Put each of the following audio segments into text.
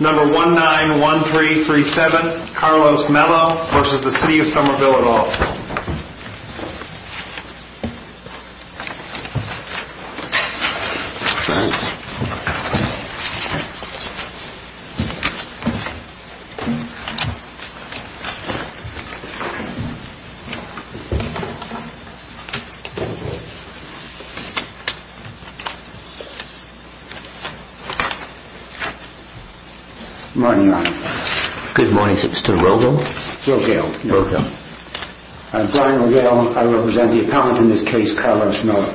Number 1-9-1-3-3-7, Carlos Melo v. City of Somerville at all. Good morning, Your Honor. Good morning, is it Mr. Rogel? Rogel, yes. I'm Brian Rogel. I represent the appellant in this case, Carlos Melo.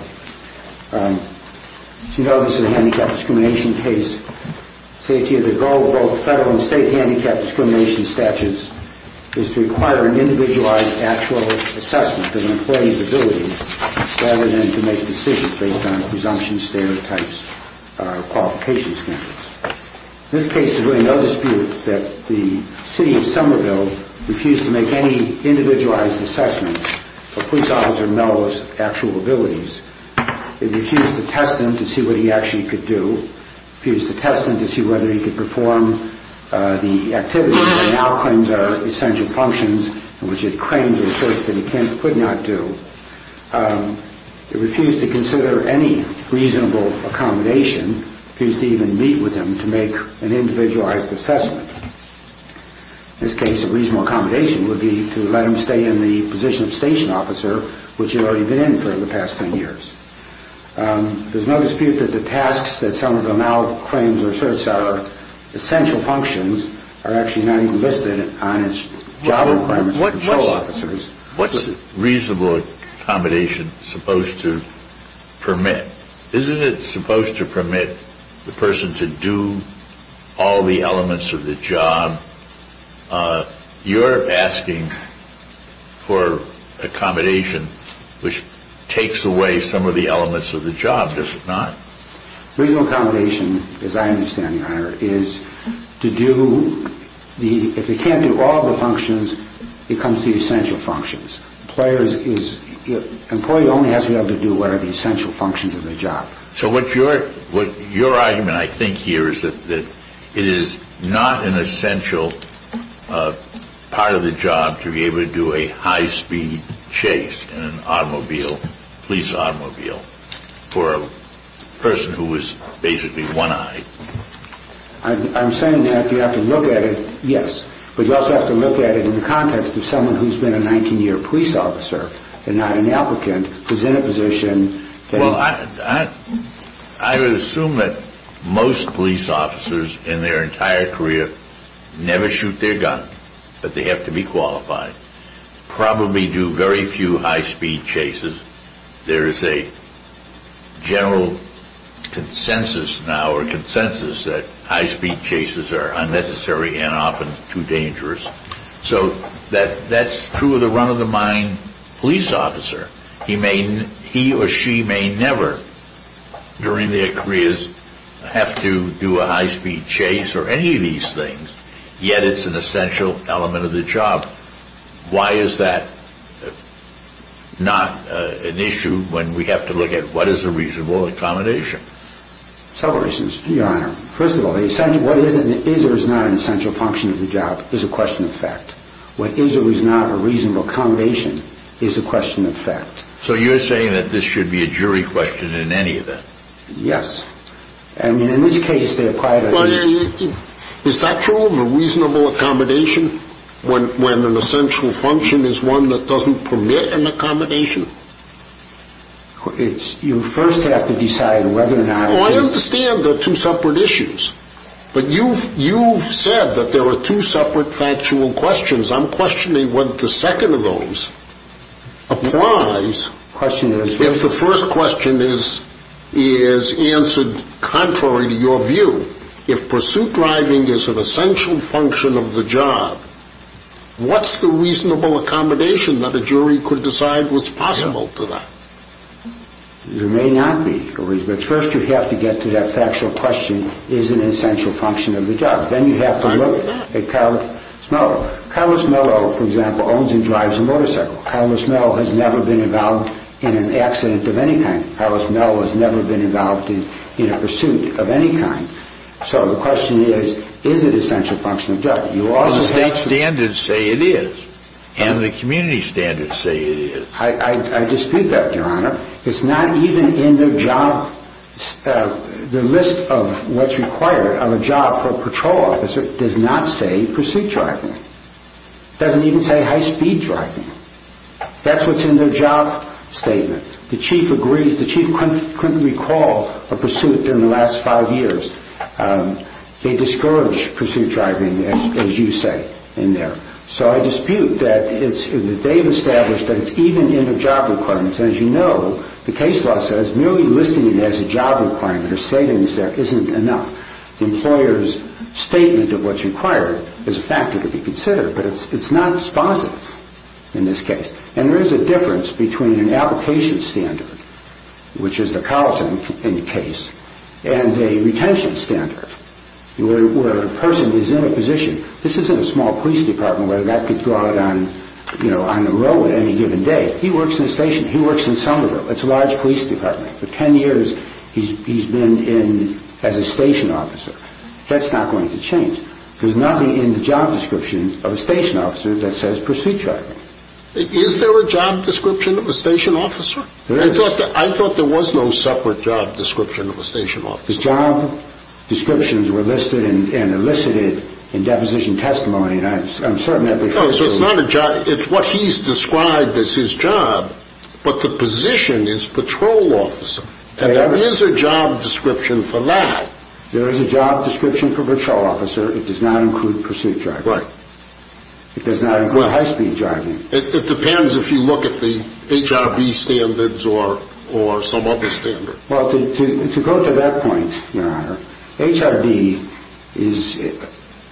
As you know, this is a handicap discrimination case. The safety of the goal of both federal and state handicap discrimination statutes is to require an individualized actual assessment of an employee's abilities rather than to make decisions based on presumption, stereotypes, or qualification standards. In this case, there's really no dispute that the City of Somerville refused to make any individualized assessment of Police Officer Melo's actual abilities. It refused to test him to see what he actually could do. It refused to test him to see whether he could perform the activities that it now claims are essential functions and which it claims it asserts that he could not do. It refused to consider any reasonable accommodation. It refused to even meet with him to make an individualized assessment. In this case, a reasonable accommodation would be to let him stay in the position of Station Officer, which he'd already been in for the past 10 years. There's no dispute that the tasks that Somerville now claims or asserts are essential functions are actually not even listed on its job requirements for patrol officers. What's reasonable accommodation supposed to permit? Isn't it supposed to permit the person to do all the elements of the job? You're asking for accommodation which takes away some of the elements of the job, does it not? Reasonable accommodation, as I understand, Your Honor, is to do the – if they can't do all the functions, it comes to the essential functions. Employee only has to be able to do what are the essential functions of the job. So what your argument, I think, here is that it is not an essential part of the job to be able to do a high-speed chase in an automobile, police automobile, for a person who is basically one-eyed. I'm saying that you have to look at it, yes, but you also have to look at it in the context of someone who's been a 19-year police officer and not an applicant who's in a position to be – Well, I would assume that most police officers in their entire career never shoot their gun, but they have to be qualified, probably do very few high-speed chases. There is a general consensus now or consensus that high-speed chases are unnecessary and often too dangerous. So that's true of the run-of-the-mind police officer. He or she may never during their careers have to do a high-speed chase or any of these things, yet it's an essential element of the job. Why is that not an issue when we have to look at what is a reasonable accommodation? Several reasons, Your Honor. First of all, what is or is not an essential function of the job is a question of fact. What is or is not a reasonable accommodation is a question of fact. So you're saying that this should be a jury question in any event? Yes. I mean, in this case, they apply it as a – Is that true, a reasonable accommodation, when an essential function is one that doesn't permit an accommodation? You first have to decide whether or not it is. Well, I understand they're two separate issues, but you've said that there are two separate factual questions. I'm questioning whether the second of those applies if the first question is answered contrary to your view. If pursuit driving is an essential function of the job, what's the reasonable accommodation that a jury could decide was possible to that? There may not be, but first you have to get to that factual question, is it an essential function of the job? Then you have to look at Carlos Mello. Carlos Mello, for example, owns and drives a motorcycle. Carlos Mello has never been involved in an accident of any kind. Carlos Mello has never been involved in a pursuit of any kind. So the question is, is it an essential function of the job? Well, the state standards say it is, and the community standards say it is. I dispute that, Your Honor. It's not even in their job – the list of what's required of a job for a patrol officer does not say pursuit driving. It doesn't even say high-speed driving. That's what's in their job statement. The chief agrees. The chief couldn't recall a pursuit in the last five years. They discourage pursuit driving, as you say, in there. So I dispute that they've established that it's even in their job requirements. As you know, the case law says merely listing it as a job requirement or statement isn't enough. The employer's statement of what's required is a factor to be considered, but it's not sponsored in this case. And there is a difference between an application standard, which is the college in the case, and a retention standard, where a person is in a position – this isn't a small police department where that could go out on the road at any given day. He works in a station. He works in Somerville. It's a large police department. For 10 years, he's been in as a station officer. That's not going to change. There's nothing in the job description of a station officer that says pursuit driving. Is there a job description of a station officer? There is. I thought there was no separate job description of a station officer. The job descriptions were listed and elicited in deposition testimony, and I'm certain that they're true. So it's not a job. It's what he's described as his job, but the position is patrol officer, and there is a job description for that. There is a job description for patrol officer. It does not include pursuit driving. Right. It does not include high-speed driving. It depends if you look at the HRB standards or some other standard. Well, to go to that point, Your Honor, HRB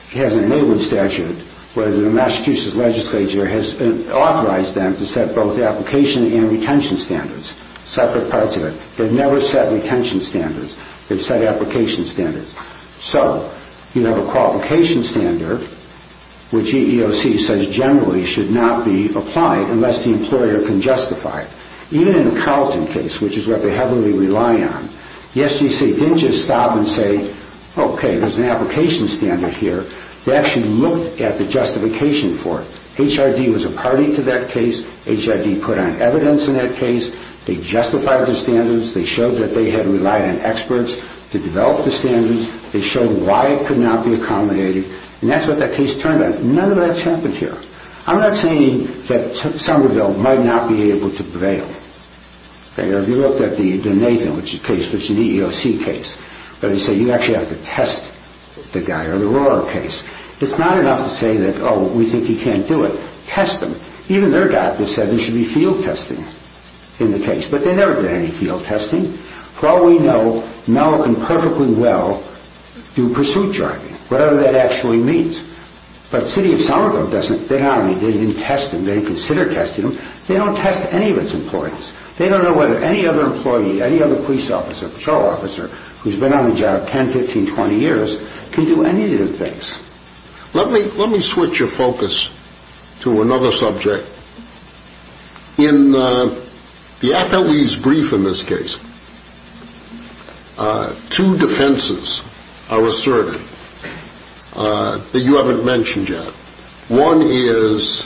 has an enabling statute where the Massachusetts legislature has authorized them to set both application and retention standards, separate parts of it. They've never set retention standards. They've set application standards. So you have a qualification standard, which EEOC says generally should not be applied unless the employer can justify it. Even in the Carlton case, which is what they heavily rely on, the SGC didn't just stop and say, okay, there's an application standard here. They actually looked at the justification for it. HRB was a party to that case. HRB put on evidence in that case. They justified the standards. They showed that they had relied on experts to develop the standards. They showed why it could not be accommodated. And that's what that case turned out. None of that's happened here. I'm not saying that Somerville might not be able to prevail. If you look at the Nathan case, which is an EEOC case, where they say you actually have to test the guy or the Rohrer case, it's not enough to say that, oh, we think he can't do it. Test him. Even their doctor said there should be field testing in the case. But they never did any field testing. For all we know, Malik can perfectly well do pursuit driving, whatever that actually means. But the city of Somerville doesn't. They didn't test him. They didn't consider testing him. They don't test any of its employees. They don't know whether any other employee, any other police officer, patrol officer, who's been on the job 10, 15, 20 years can do any of the things. Let me switch your focus to another subject. In the attorney's brief in this case, two defenses are asserted that you haven't mentioned yet. One is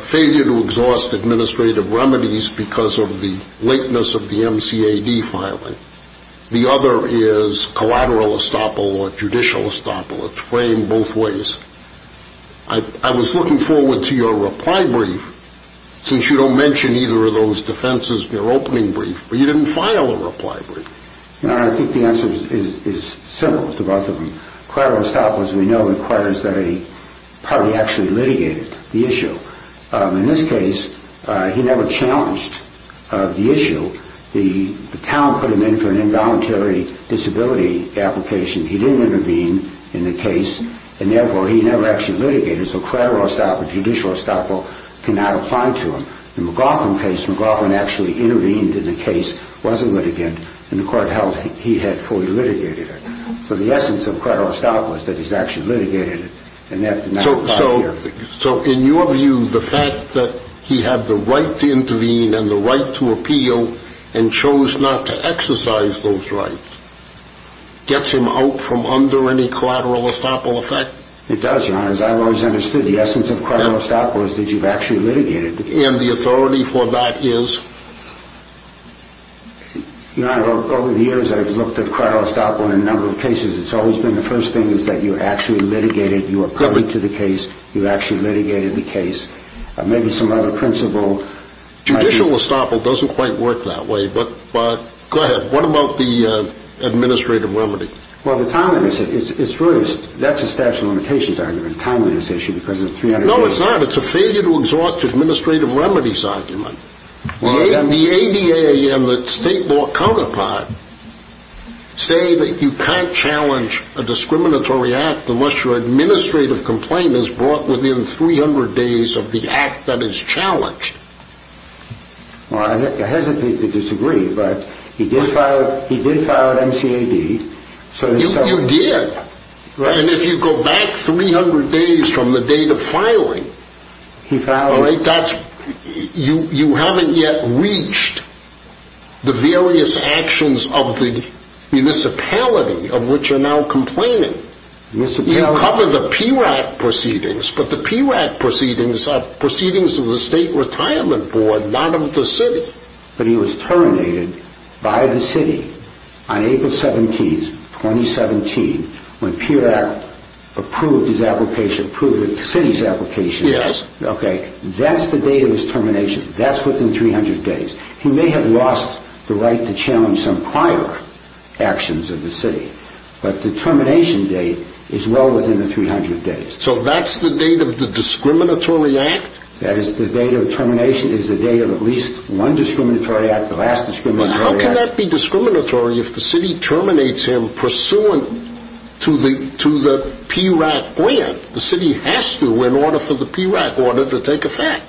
failure to exhaust administrative remedies because of the lateness of the MCAD filing. The other is collateral estoppel or judicial estoppel. It's framed both ways. I was looking forward to your reply brief since you don't mention either of those defenses in your opening brief. But you didn't file a reply brief. I think the answer is simple to both of them. Collateral estoppel, as we know, requires that a party actually litigate the issue. In this case, he never challenged the issue. The town put him in for an involuntary disability application. He didn't intervene in the case. And, therefore, he never actually litigated. So collateral estoppel, judicial estoppel cannot apply to him. In the McLaughlin case, McLaughlin actually intervened in the case, wasn't litigant, and the court held he had fully litigated it. So the essence of collateral estoppel is that he's actually litigated it, and that did not apply here. So in your view, the fact that he had the right to intervene and the right to appeal and chose not to exercise those rights gets him out from under any collateral estoppel effect? It does, Your Honor. As I've always understood, the essence of collateral estoppel is that you've actually litigated the case. And the authority for that is? Your Honor, over the years, I've looked at collateral estoppel in a number of cases. It's always been the first thing is that you actually litigated. You are coming to the case. You actually litigated the case. Maybe some other principle. Judicial estoppel doesn't quite work that way. But go ahead. What about the administrative remedy? Well, the time limit is really, that's a statute of limitations argument, the time limit issue, because it's 300 days. No, it's not. It's a failure to exhaust administrative remedies argument. The ADA and the state law counterpart say that you can't challenge a discriminatory act unless your administrative complaint is brought within 300 days of the act that is challenged. Well, I hesitate to disagree, but he did file an MCAD. You did. And if you go back 300 days from the date of filing, you haven't yet reached the various actions of the municipality of which you're now complaining. You covered the PRAC proceedings, but the PRAC proceedings are proceedings of the state retirement board, not of the city. But he was terminated by the city on April 17, 2017, when PRAC approved his application, approved the city's application. Yes. Okay. That's the date of his termination. That's within 300 days. He may have lost the right to challenge some prior actions of the city. But the termination date is well within the 300 days. So that's the date of the discriminatory act? That is, the date of termination is the date of at least one discriminatory act, the last discriminatory act. How can that be discriminatory if the city terminates him pursuant to the PRAC grant? The city has to, in order for the PRAC order to take effect.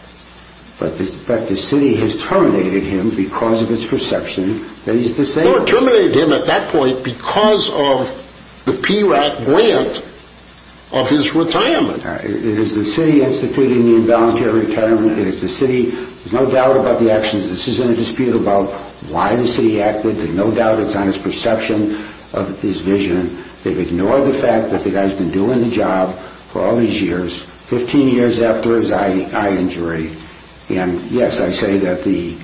But the city has terminated him because of its perception that he's disabled. The board terminated him at that point because of the PRAC grant of his retirement. It is the city instituting the imbalance to your retirement. It is the city. There's no doubt about the actions. This isn't a dispute about why the city acted. There's no doubt it's on its perception of this vision. They've ignored the fact that the guy's been doing the job for all these years, 15 years after his eye injury. And, yes, I say that the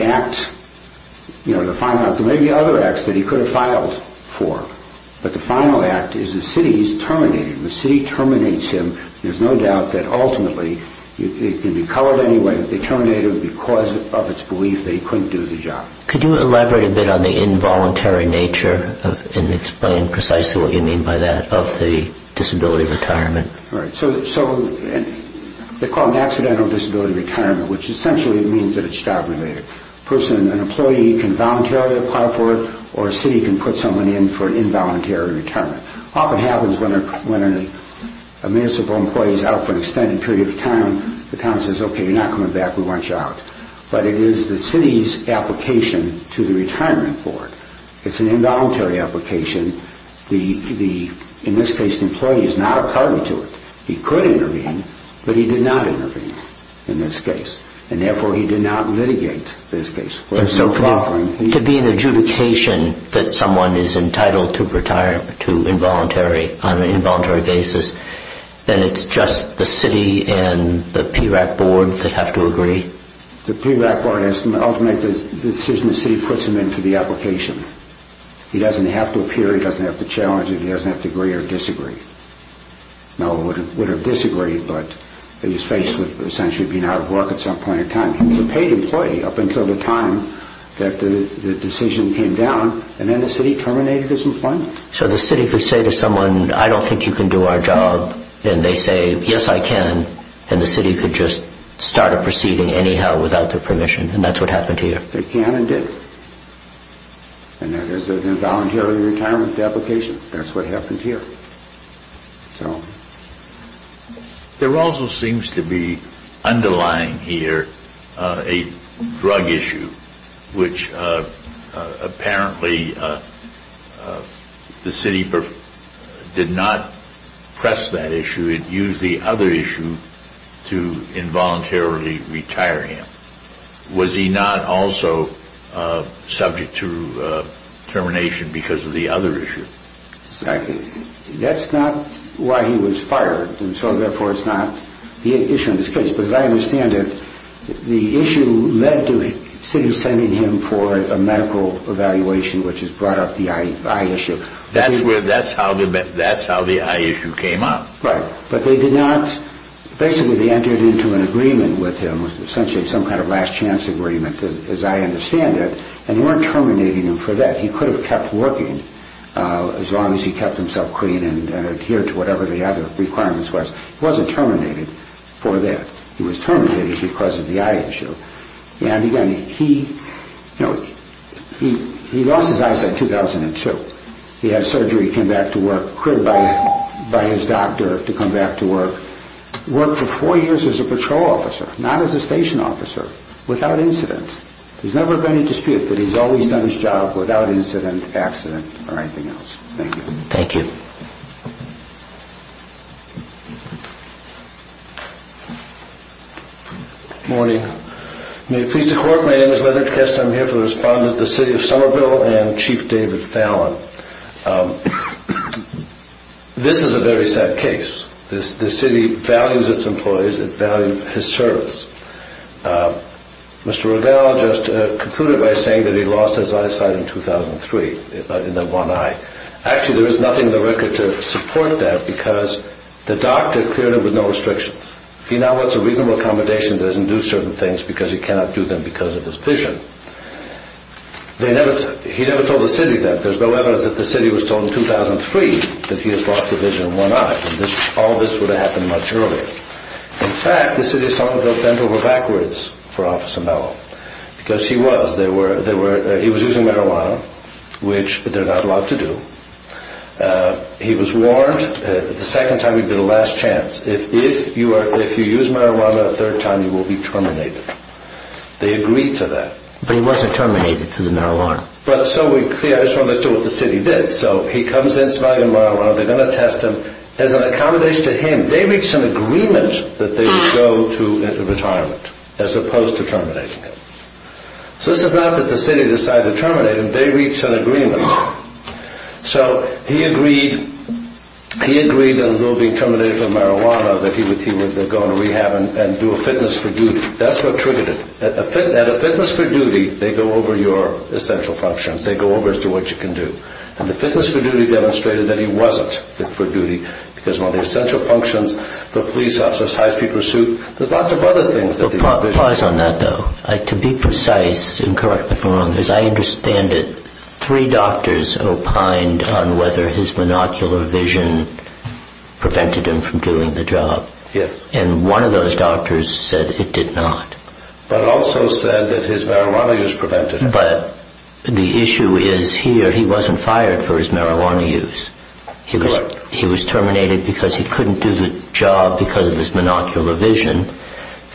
act, you know, the final act, there may be other acts that he could have filed for. But the final act is the city has terminated him. The city terminates him. There's no doubt that ultimately, it can be colored anyway, but they terminated him because of its belief that he couldn't do the job. Could you elaborate a bit on the involuntary nature and explain precisely what you mean by that of the disability retirement? All right. So they call it an accidental disability retirement, which essentially means that it's job related. An employee can voluntarily apply for it, or a city can put someone in for an involuntary retirement. Often happens when a municipal employee is out for an extended period of time, the town says, okay, you're not coming back. We want you out. But it is the city's application to the retirement board. It's an involuntary application. In this case, the employee is not a party to it. He could intervene, but he did not intervene in this case. And therefore, he did not litigate this case. To be in adjudication that someone is entitled to involuntary on an involuntary basis, then it's just the city and the PRAC board that have to agree? The PRAC board has to ultimately make the decision the city puts him in for the application. He doesn't have to appear. He doesn't have to challenge it. He doesn't have to agree or disagree. No one would have disagreed, but his face would essentially be out of work at some point in time. He was a paid employee up until the time that the decision came down, and then the city terminated his employment. So the city could say to someone, I don't think you can do our job, and they say, yes, I can, and the city could just start a proceeding anyhow without their permission, and that's what happened here? They can and did. And that is an involuntary retirement application. That's what happened here. There also seems to be underlying here a drug issue, which apparently the city did not press that issue. It used the other issue to involuntarily retire him. Was he not also subject to termination because of the other issue? Exactly. That's not why he was fired, and so therefore it's not the issue in this case, but as I understand it, the issue led to the city sending him for a medical evaluation, which has brought up the eye issue. That's how the eye issue came up. Right, but they did not, basically they entered into an agreement with him with essentially some kind of last chance agreement, as I understand it, and they weren't terminating him for that. He could have kept working as long as he kept himself clean and adhered to whatever the other requirements was. He wasn't terminated for that. He was terminated because of the eye issue, and again, he lost his eyesight in 2002. He had surgery, came back to work, quit by his doctor to come back to work, worked for four years as a patrol officer, not as a station officer, without incident. He's never had any dispute that he's always done his job without incident, accident, or anything else. Thank you. Thank you. Good morning. May it please the Court, my name is Leonard Kessler, I'm here to respond to the City of Somerville and Chief David Fallon. This is a very sad case. This city values its employees, it values its service. Mr. Revell just concluded by saying that he lost his eyesight in 2003, in the one eye. Actually, there is nothing in the record to support that because the doctor cleared him with no restrictions. He now wants a reasonable accommodation that doesn't do certain things because he cannot do them because of his vision. He never told the city that. There's no evidence that the city was told in 2003 that he has lost his vision in one eye. All this would have happened much earlier. In fact, the City of Somerville bent over backwards for Officer Mello because he was using marijuana, which they're not allowed to do. He was warned the second time he'd be the last chance. If you use marijuana a third time, you will be terminated. They agreed to that. But he wasn't terminated through the marijuana. I just wanted to show what the city did. He comes in smoking marijuana, they're going to test him. As an accommodation to him, they reached an agreement that they would go to retirement as opposed to terminating him. So this is not that the city decided to terminate him. They reached an agreement. So he agreed that although being terminated from marijuana, that he would go into rehab and do a fitness for duty. That's what triggered it. At a fitness for duty, they go over your essential functions. They go over as to what you can do. And the fitness for duty demonstrated that he wasn't fit for duty. Because on the essential functions, the police officer's high-speed pursuit, there's lots of other things. Pause on that, though. To be precise, and correct me if I'm wrong, as I understand it, three doctors opined on whether his monocular vision prevented him from doing the job. Yes. And one of those doctors said it did not. But also said that his marijuana use prevented it. But the issue is, here he wasn't fired for his marijuana use. He was terminated because he couldn't do the job because of his monocular vision.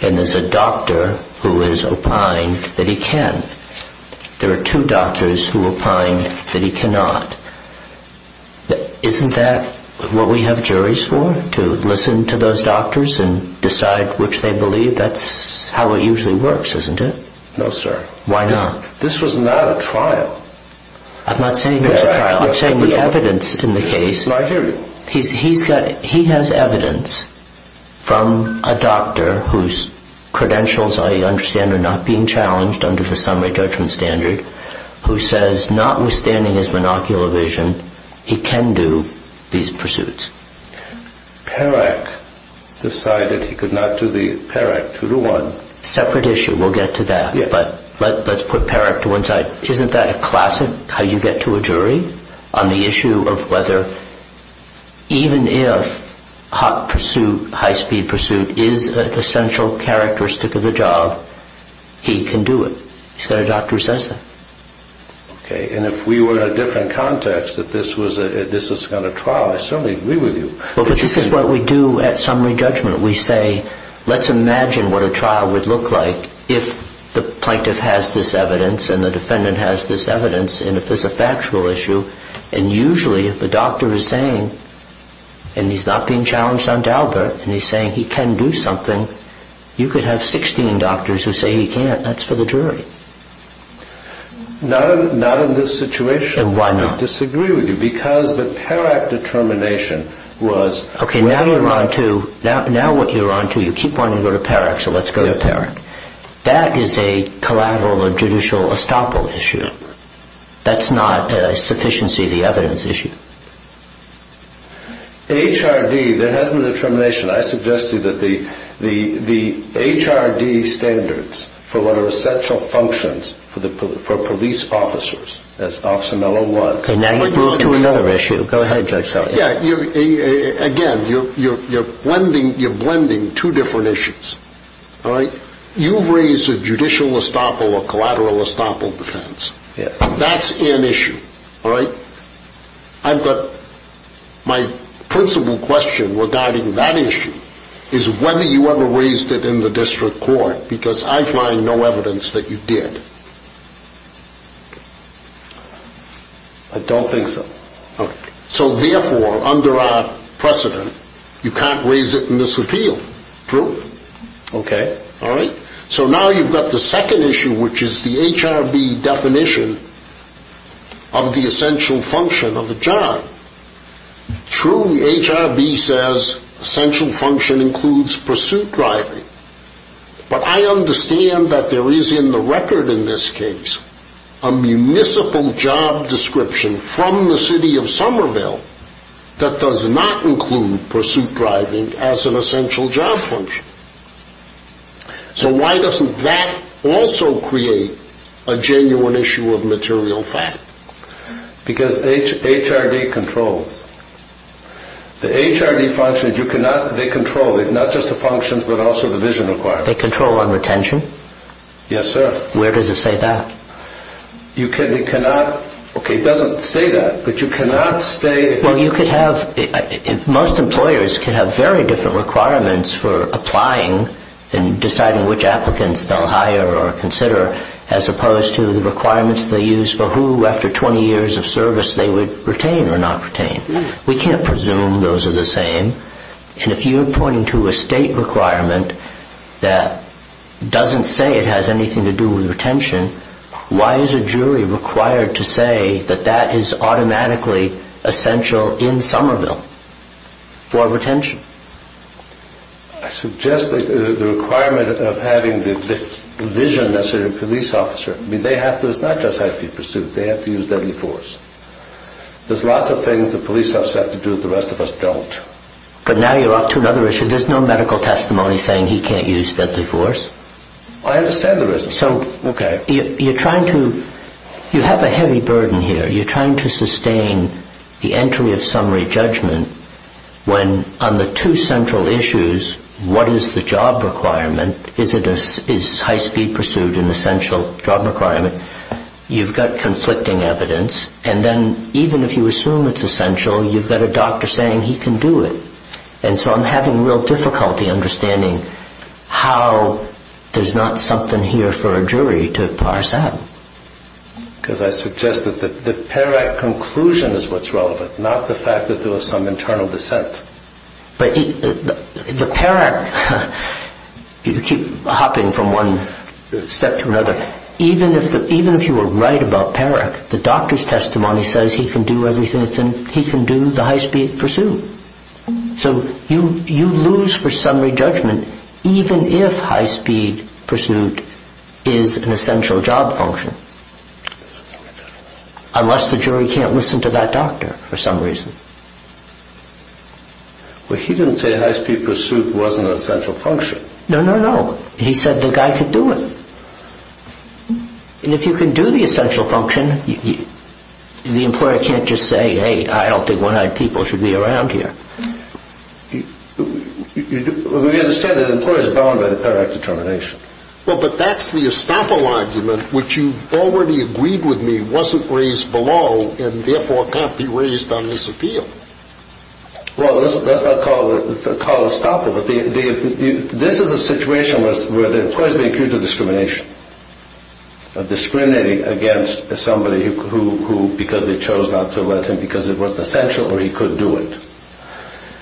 And there's a doctor who is opined that he can. There are two doctors who opined that he cannot. Isn't that what we have juries for? To listen to those doctors and decide which they believe? That's how it usually works, isn't it? No, sir. Why not? This was not a trial. I'm not saying it was a trial. I'm saying the evidence in the case... I hear you. He has evidence from a doctor whose credentials, I understand, are not being challenged under the summary judgment standard, who says, notwithstanding his monocular vision, he can do these pursuits. Perak decided he could not do the... Perak, 2-1. Separate issue. We'll get to that. But let's put Perak to one side. Isn't that a classic, how you get to a jury, on the issue of whether, even if hot pursuit, high-speed pursuit, is an essential characteristic of the job, he can do it? He's got a doctor who says that. And if we were in a different context, that this was not a trial, I certainly agree with you. But this is what we do at summary judgment. We say, let's imagine what a trial would look like if the plaintiff has this evidence and the defendant has this evidence, and if there's a factual issue, and usually if the doctor is saying, and he's not being challenged on Daubert, and he's saying he can do something, you could have 16 doctors who say he can't. That's for the jury. Not in this situation. And why not? I disagree with you, because the Perak determination was... Okay, now you're on to... Now what you're on to, you keep wanting to go to Perak, so let's go to Perak. That is a collateral or judicial estoppel issue. That's not a sufficiency of the evidence issue. HRD, there has been a determination. I suggest to you that the HRD standards for what are essential functions for police officers, as Officer Mello was... Okay, now you've moved to another issue. Go ahead, Judge Kelly. Yeah, again, you're blending two different issues. All right? You've raised a judicial estoppel or collateral estoppel defense. That's an issue. All right? I've got... My principal question regarding that issue is whether you ever raised it in the district court, because I find no evidence that you did. I don't think so. Okay. So therefore, under our precedent, you can't raise it in this appeal. True? Okay. All right? So now you've got the second issue, which is the HRB definition of the essential function of the job. Truly, HRB says essential function includes pursuit driving, but I understand that there is in the record in this case a municipal job description from the city of Somerville that does not include pursuit driving as an essential job function. So why doesn't that also create a genuine issue of material fact? Because HRB controls. The HRB functions, you cannot... They control it, not just the functions, but also the vision requirements. They control on retention? Yes, sir. Where does it say that? You cannot... Okay, it doesn't say that, but you cannot say... Well, you could have... Most employers can have very different requirements for applying and deciding which applicants they'll hire or consider as opposed to the requirements they use for who, after 20 years of service, they would retain or not retain. We can't presume those are the same. And if you're pointing to a state requirement that doesn't say it has anything to do with retention, why is a jury required to say that that is automatically essential in Somerville for retention? I suggest the requirement of having the vision as a police officer. They have to... It's not just HRB pursuit. They have to use deadly force. There's lots of things the police officers have to do that the rest of us don't. But now you're off to another issue. There's no medical testimony saying he can't use deadly force. I understand the reason. So you're trying to... You have a heavy burden here. You're trying to sustain the entry of summary judgment when, on the two central issues, what is the job requirement? Is high-speed pursuit an essential job requirement? You've got conflicting evidence. And then, even if you assume it's essential, you've got a doctor saying he can do it. And so I'm having real difficulty understanding how there's not something here for a jury to parse out. Because I suggest that the PARAC conclusion is what's relevant, not the fact that there was some internal dissent. But the PARAC... You keep hopping from one step to another. Even if you were right about PARAC, the doctor's testimony says he can do everything. He can do the high-speed pursuit. So you lose for summary judgment even if high-speed pursuit is an essential job function. Unless the jury can't listen to that doctor for some reason. Well, he didn't say high-speed pursuit wasn't an essential function. No, no, no. He said the guy could do it. And if you can do the essential function, the employer can't just say, hey, I don't think 100 people should be around here. We understand that employers are bound by the PARAC determination. Well, but that's the estoppel argument, which you've already agreed with me wasn't raised below and therefore can't be raised on this appeal. Well, that's not called estoppel, but this is a situation where the employer's being accused of discrimination. Of discriminating against somebody who, because they chose not to let him because it wasn't essential or he couldn't do it.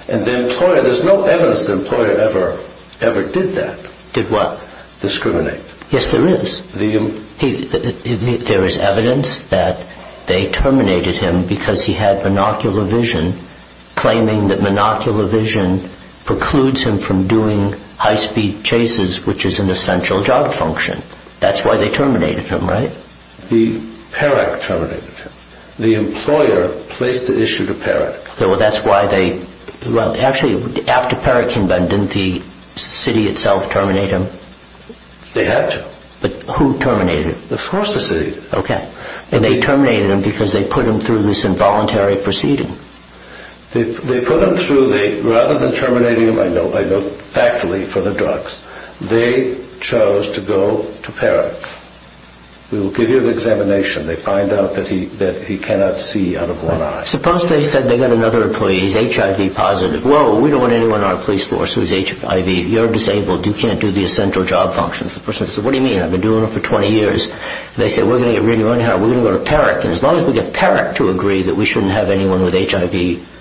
And the employer, there's no evidence the employer ever did that. Did what? Discriminate. Yes, there is. There is evidence that they terminated him because he had monocular vision, claiming that monocular vision precludes him from doing high-speed chases, which is an essential job function. That's why they terminated him, right? No, the PARAC terminated him. The employer placed the issue to PARAC. Well, that's why they, well, actually, after PARAC came back, didn't the city itself terminate him? They had to. But who terminated him? Of course the city. Okay. And they terminated him because they put him through this involuntary proceeding. They put him through, rather than terminating him, I know factually from the drugs, they chose to go to PARAC. We will give you an examination. They find out that he cannot see out of one eye. Suppose they said they got another employee. He's HIV positive. Whoa, we don't want anyone on our police force who's HIV. You're disabled. You can't do the essential job functions. The person says, what do you mean? I've been doing it for 20 years. They say, we're going to get rid of you anyhow. We're going to go to PARAC. And as long as we get PARAC to agree that we shouldn't have anyone with HIV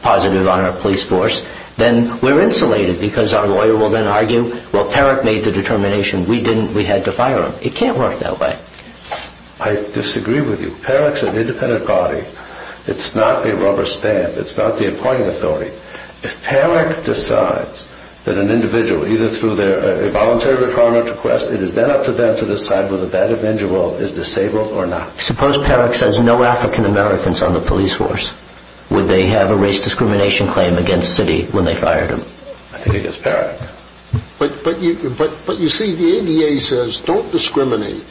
positive on our police force, then we're insulated because our lawyer will then argue, well, PARAC made the determination. We didn't. We had to fire him. It can't work that way. I disagree with you. PARAC's an independent body. It's not a rubber stamp. It's not the appointing authority. If PARAC decides that an individual, either through a voluntary retirement request, it is then up to them to decide whether that individual is disabled or not. Suppose PARAC says no African Americans on the police force. Would they have a race discrimination claim against Citi when they fired him? I think against PARAC. But you see, the ADA says don't discriminate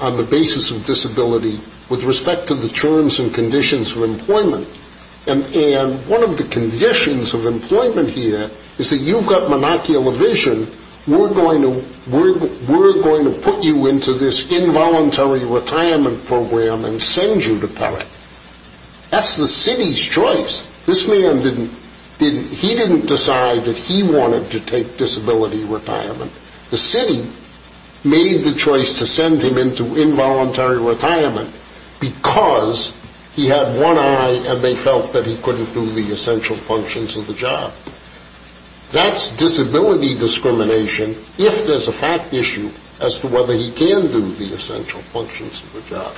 on the basis of disability with respect to the terms and conditions of employment. And one of the conditions of employment here is that you've got monocular vision. We're going to put you into this involuntary retirement program and send you to PARAC. That's the Citi's choice. This man didn't decide that he wanted to take disability retirement. The Citi made the choice to send him into involuntary retirement because he had one eye and they felt that he couldn't do the essential functions of the job. That's disability discrimination if there's a fact issue as to whether he can do the essential functions of the job.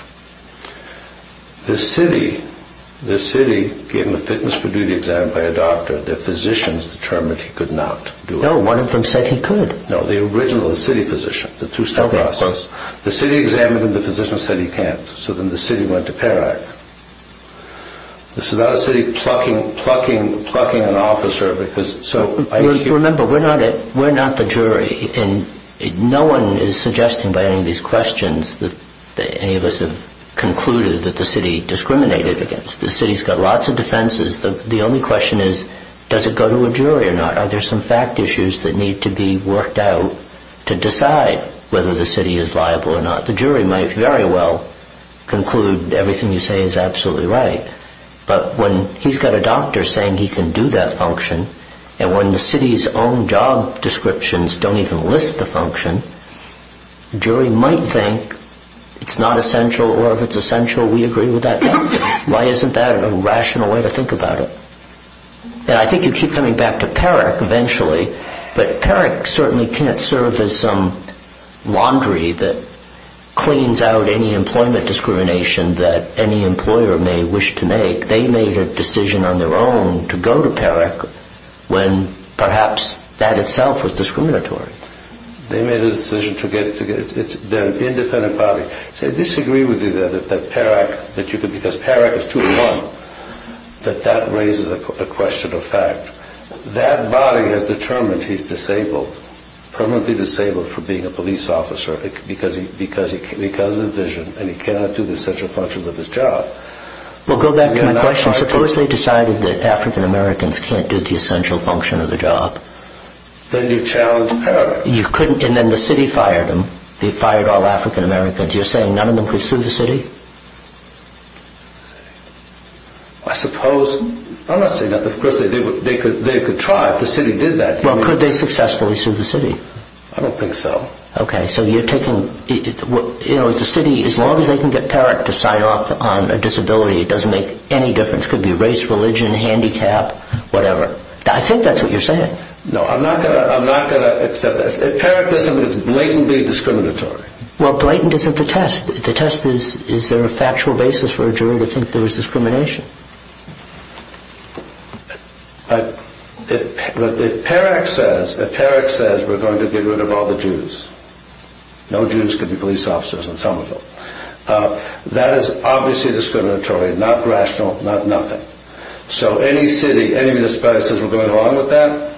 The Citi gave him a fitness for duty exam by a doctor. The physicians determined he could not do it. No, one of them said he could. No, the original Citi physician, the two-step process. The Citi examined him. The physician said he can't. So then the Citi went to PARAC. This is not a Citi plucking an officer. Remember, we're not the jury. No one is suggesting by any of these questions that any of us have concluded that the Citi discriminated against. The Citi's got lots of defenses. The only question is, does it go to a jury or not? Are there some fact issues that need to be worked out to decide whether the Citi is liable or not? The jury might very well conclude everything you say is absolutely right, but when he's got a doctor saying he can do that function and when the Citi's own job descriptions don't even list the function, the jury might think it's not essential or if it's essential, we agree with that. Why isn't that a rational way to think about it? And I think you keep coming back to PARAC eventually, but PARAC certainly can't serve as some laundry that cleans out any employment discrimination that any employer may wish to make. I think they made a decision on their own to go to PARAC when perhaps that itself was discriminatory. They made a decision to get their independent body. I disagree with you there that PARAC, because PARAC is 2-1, that that raises a question of fact. That body has determined he's disabled, permanently disabled for being a police officer because of vision, and he cannot do the essential functions of his job. Well, go back to my question. Suppose they decided that African-Americans can't do the essential function of the job. Then you challenge PARAC. You couldn't, and then the Citi fired them. They fired all African-Americans. You're saying none of them could sue the Citi? I suppose. I'm not saying that. Of course, they could try if the Citi did that. Well, could they successfully sue the Citi? I don't think so. Okay, so you're taking... As long as they can get PARAC to sign off on a disability, it doesn't make any difference. It could be race, religion, handicap, whatever. I think that's what you're saying. No, I'm not going to accept that. If PARAC does something, it's blatantly discriminatory. Well, blatant isn't the test. The test is, is there a factual basis for a jury to think there was discrimination? If PARAC says, if PARAC says we're going to get rid of all the Jews, no Jews could be police officers on Somerville, that is obviously discriminatory, not rational, not nothing. So any city, any municipality that says we're going along with that,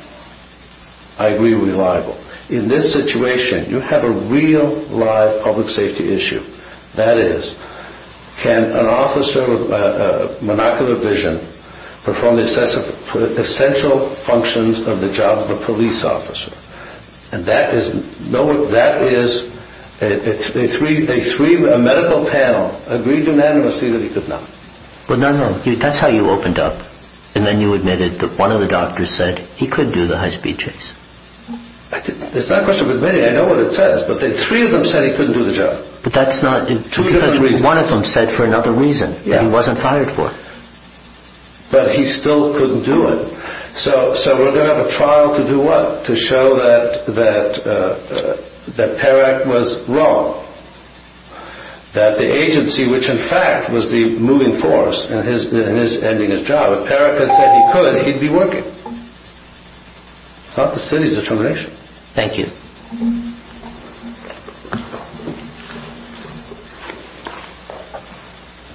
I agree we're liable. In this situation, you have a real, live public safety issue. That is, can an officer with monocular vision perform the essential functions of the job of a police officer? And that is, a medical panel agreed unanimously that he could not. Well, no, no, that's how you opened up. And then you admitted that one of the doctors said he couldn't do the high-speed chase. It's not a question of admitting. I know what it says. But three of them said he couldn't do the job. But that's not, because one of them said for another reason, that he wasn't fired for. But he still couldn't do it. So we're going to have a trial to do what? To show that Perak was wrong. That the agency, which in fact was the moving force in ending his job, if Perak had said he couldn't, he'd be working. It's not the city's determination. Thank you.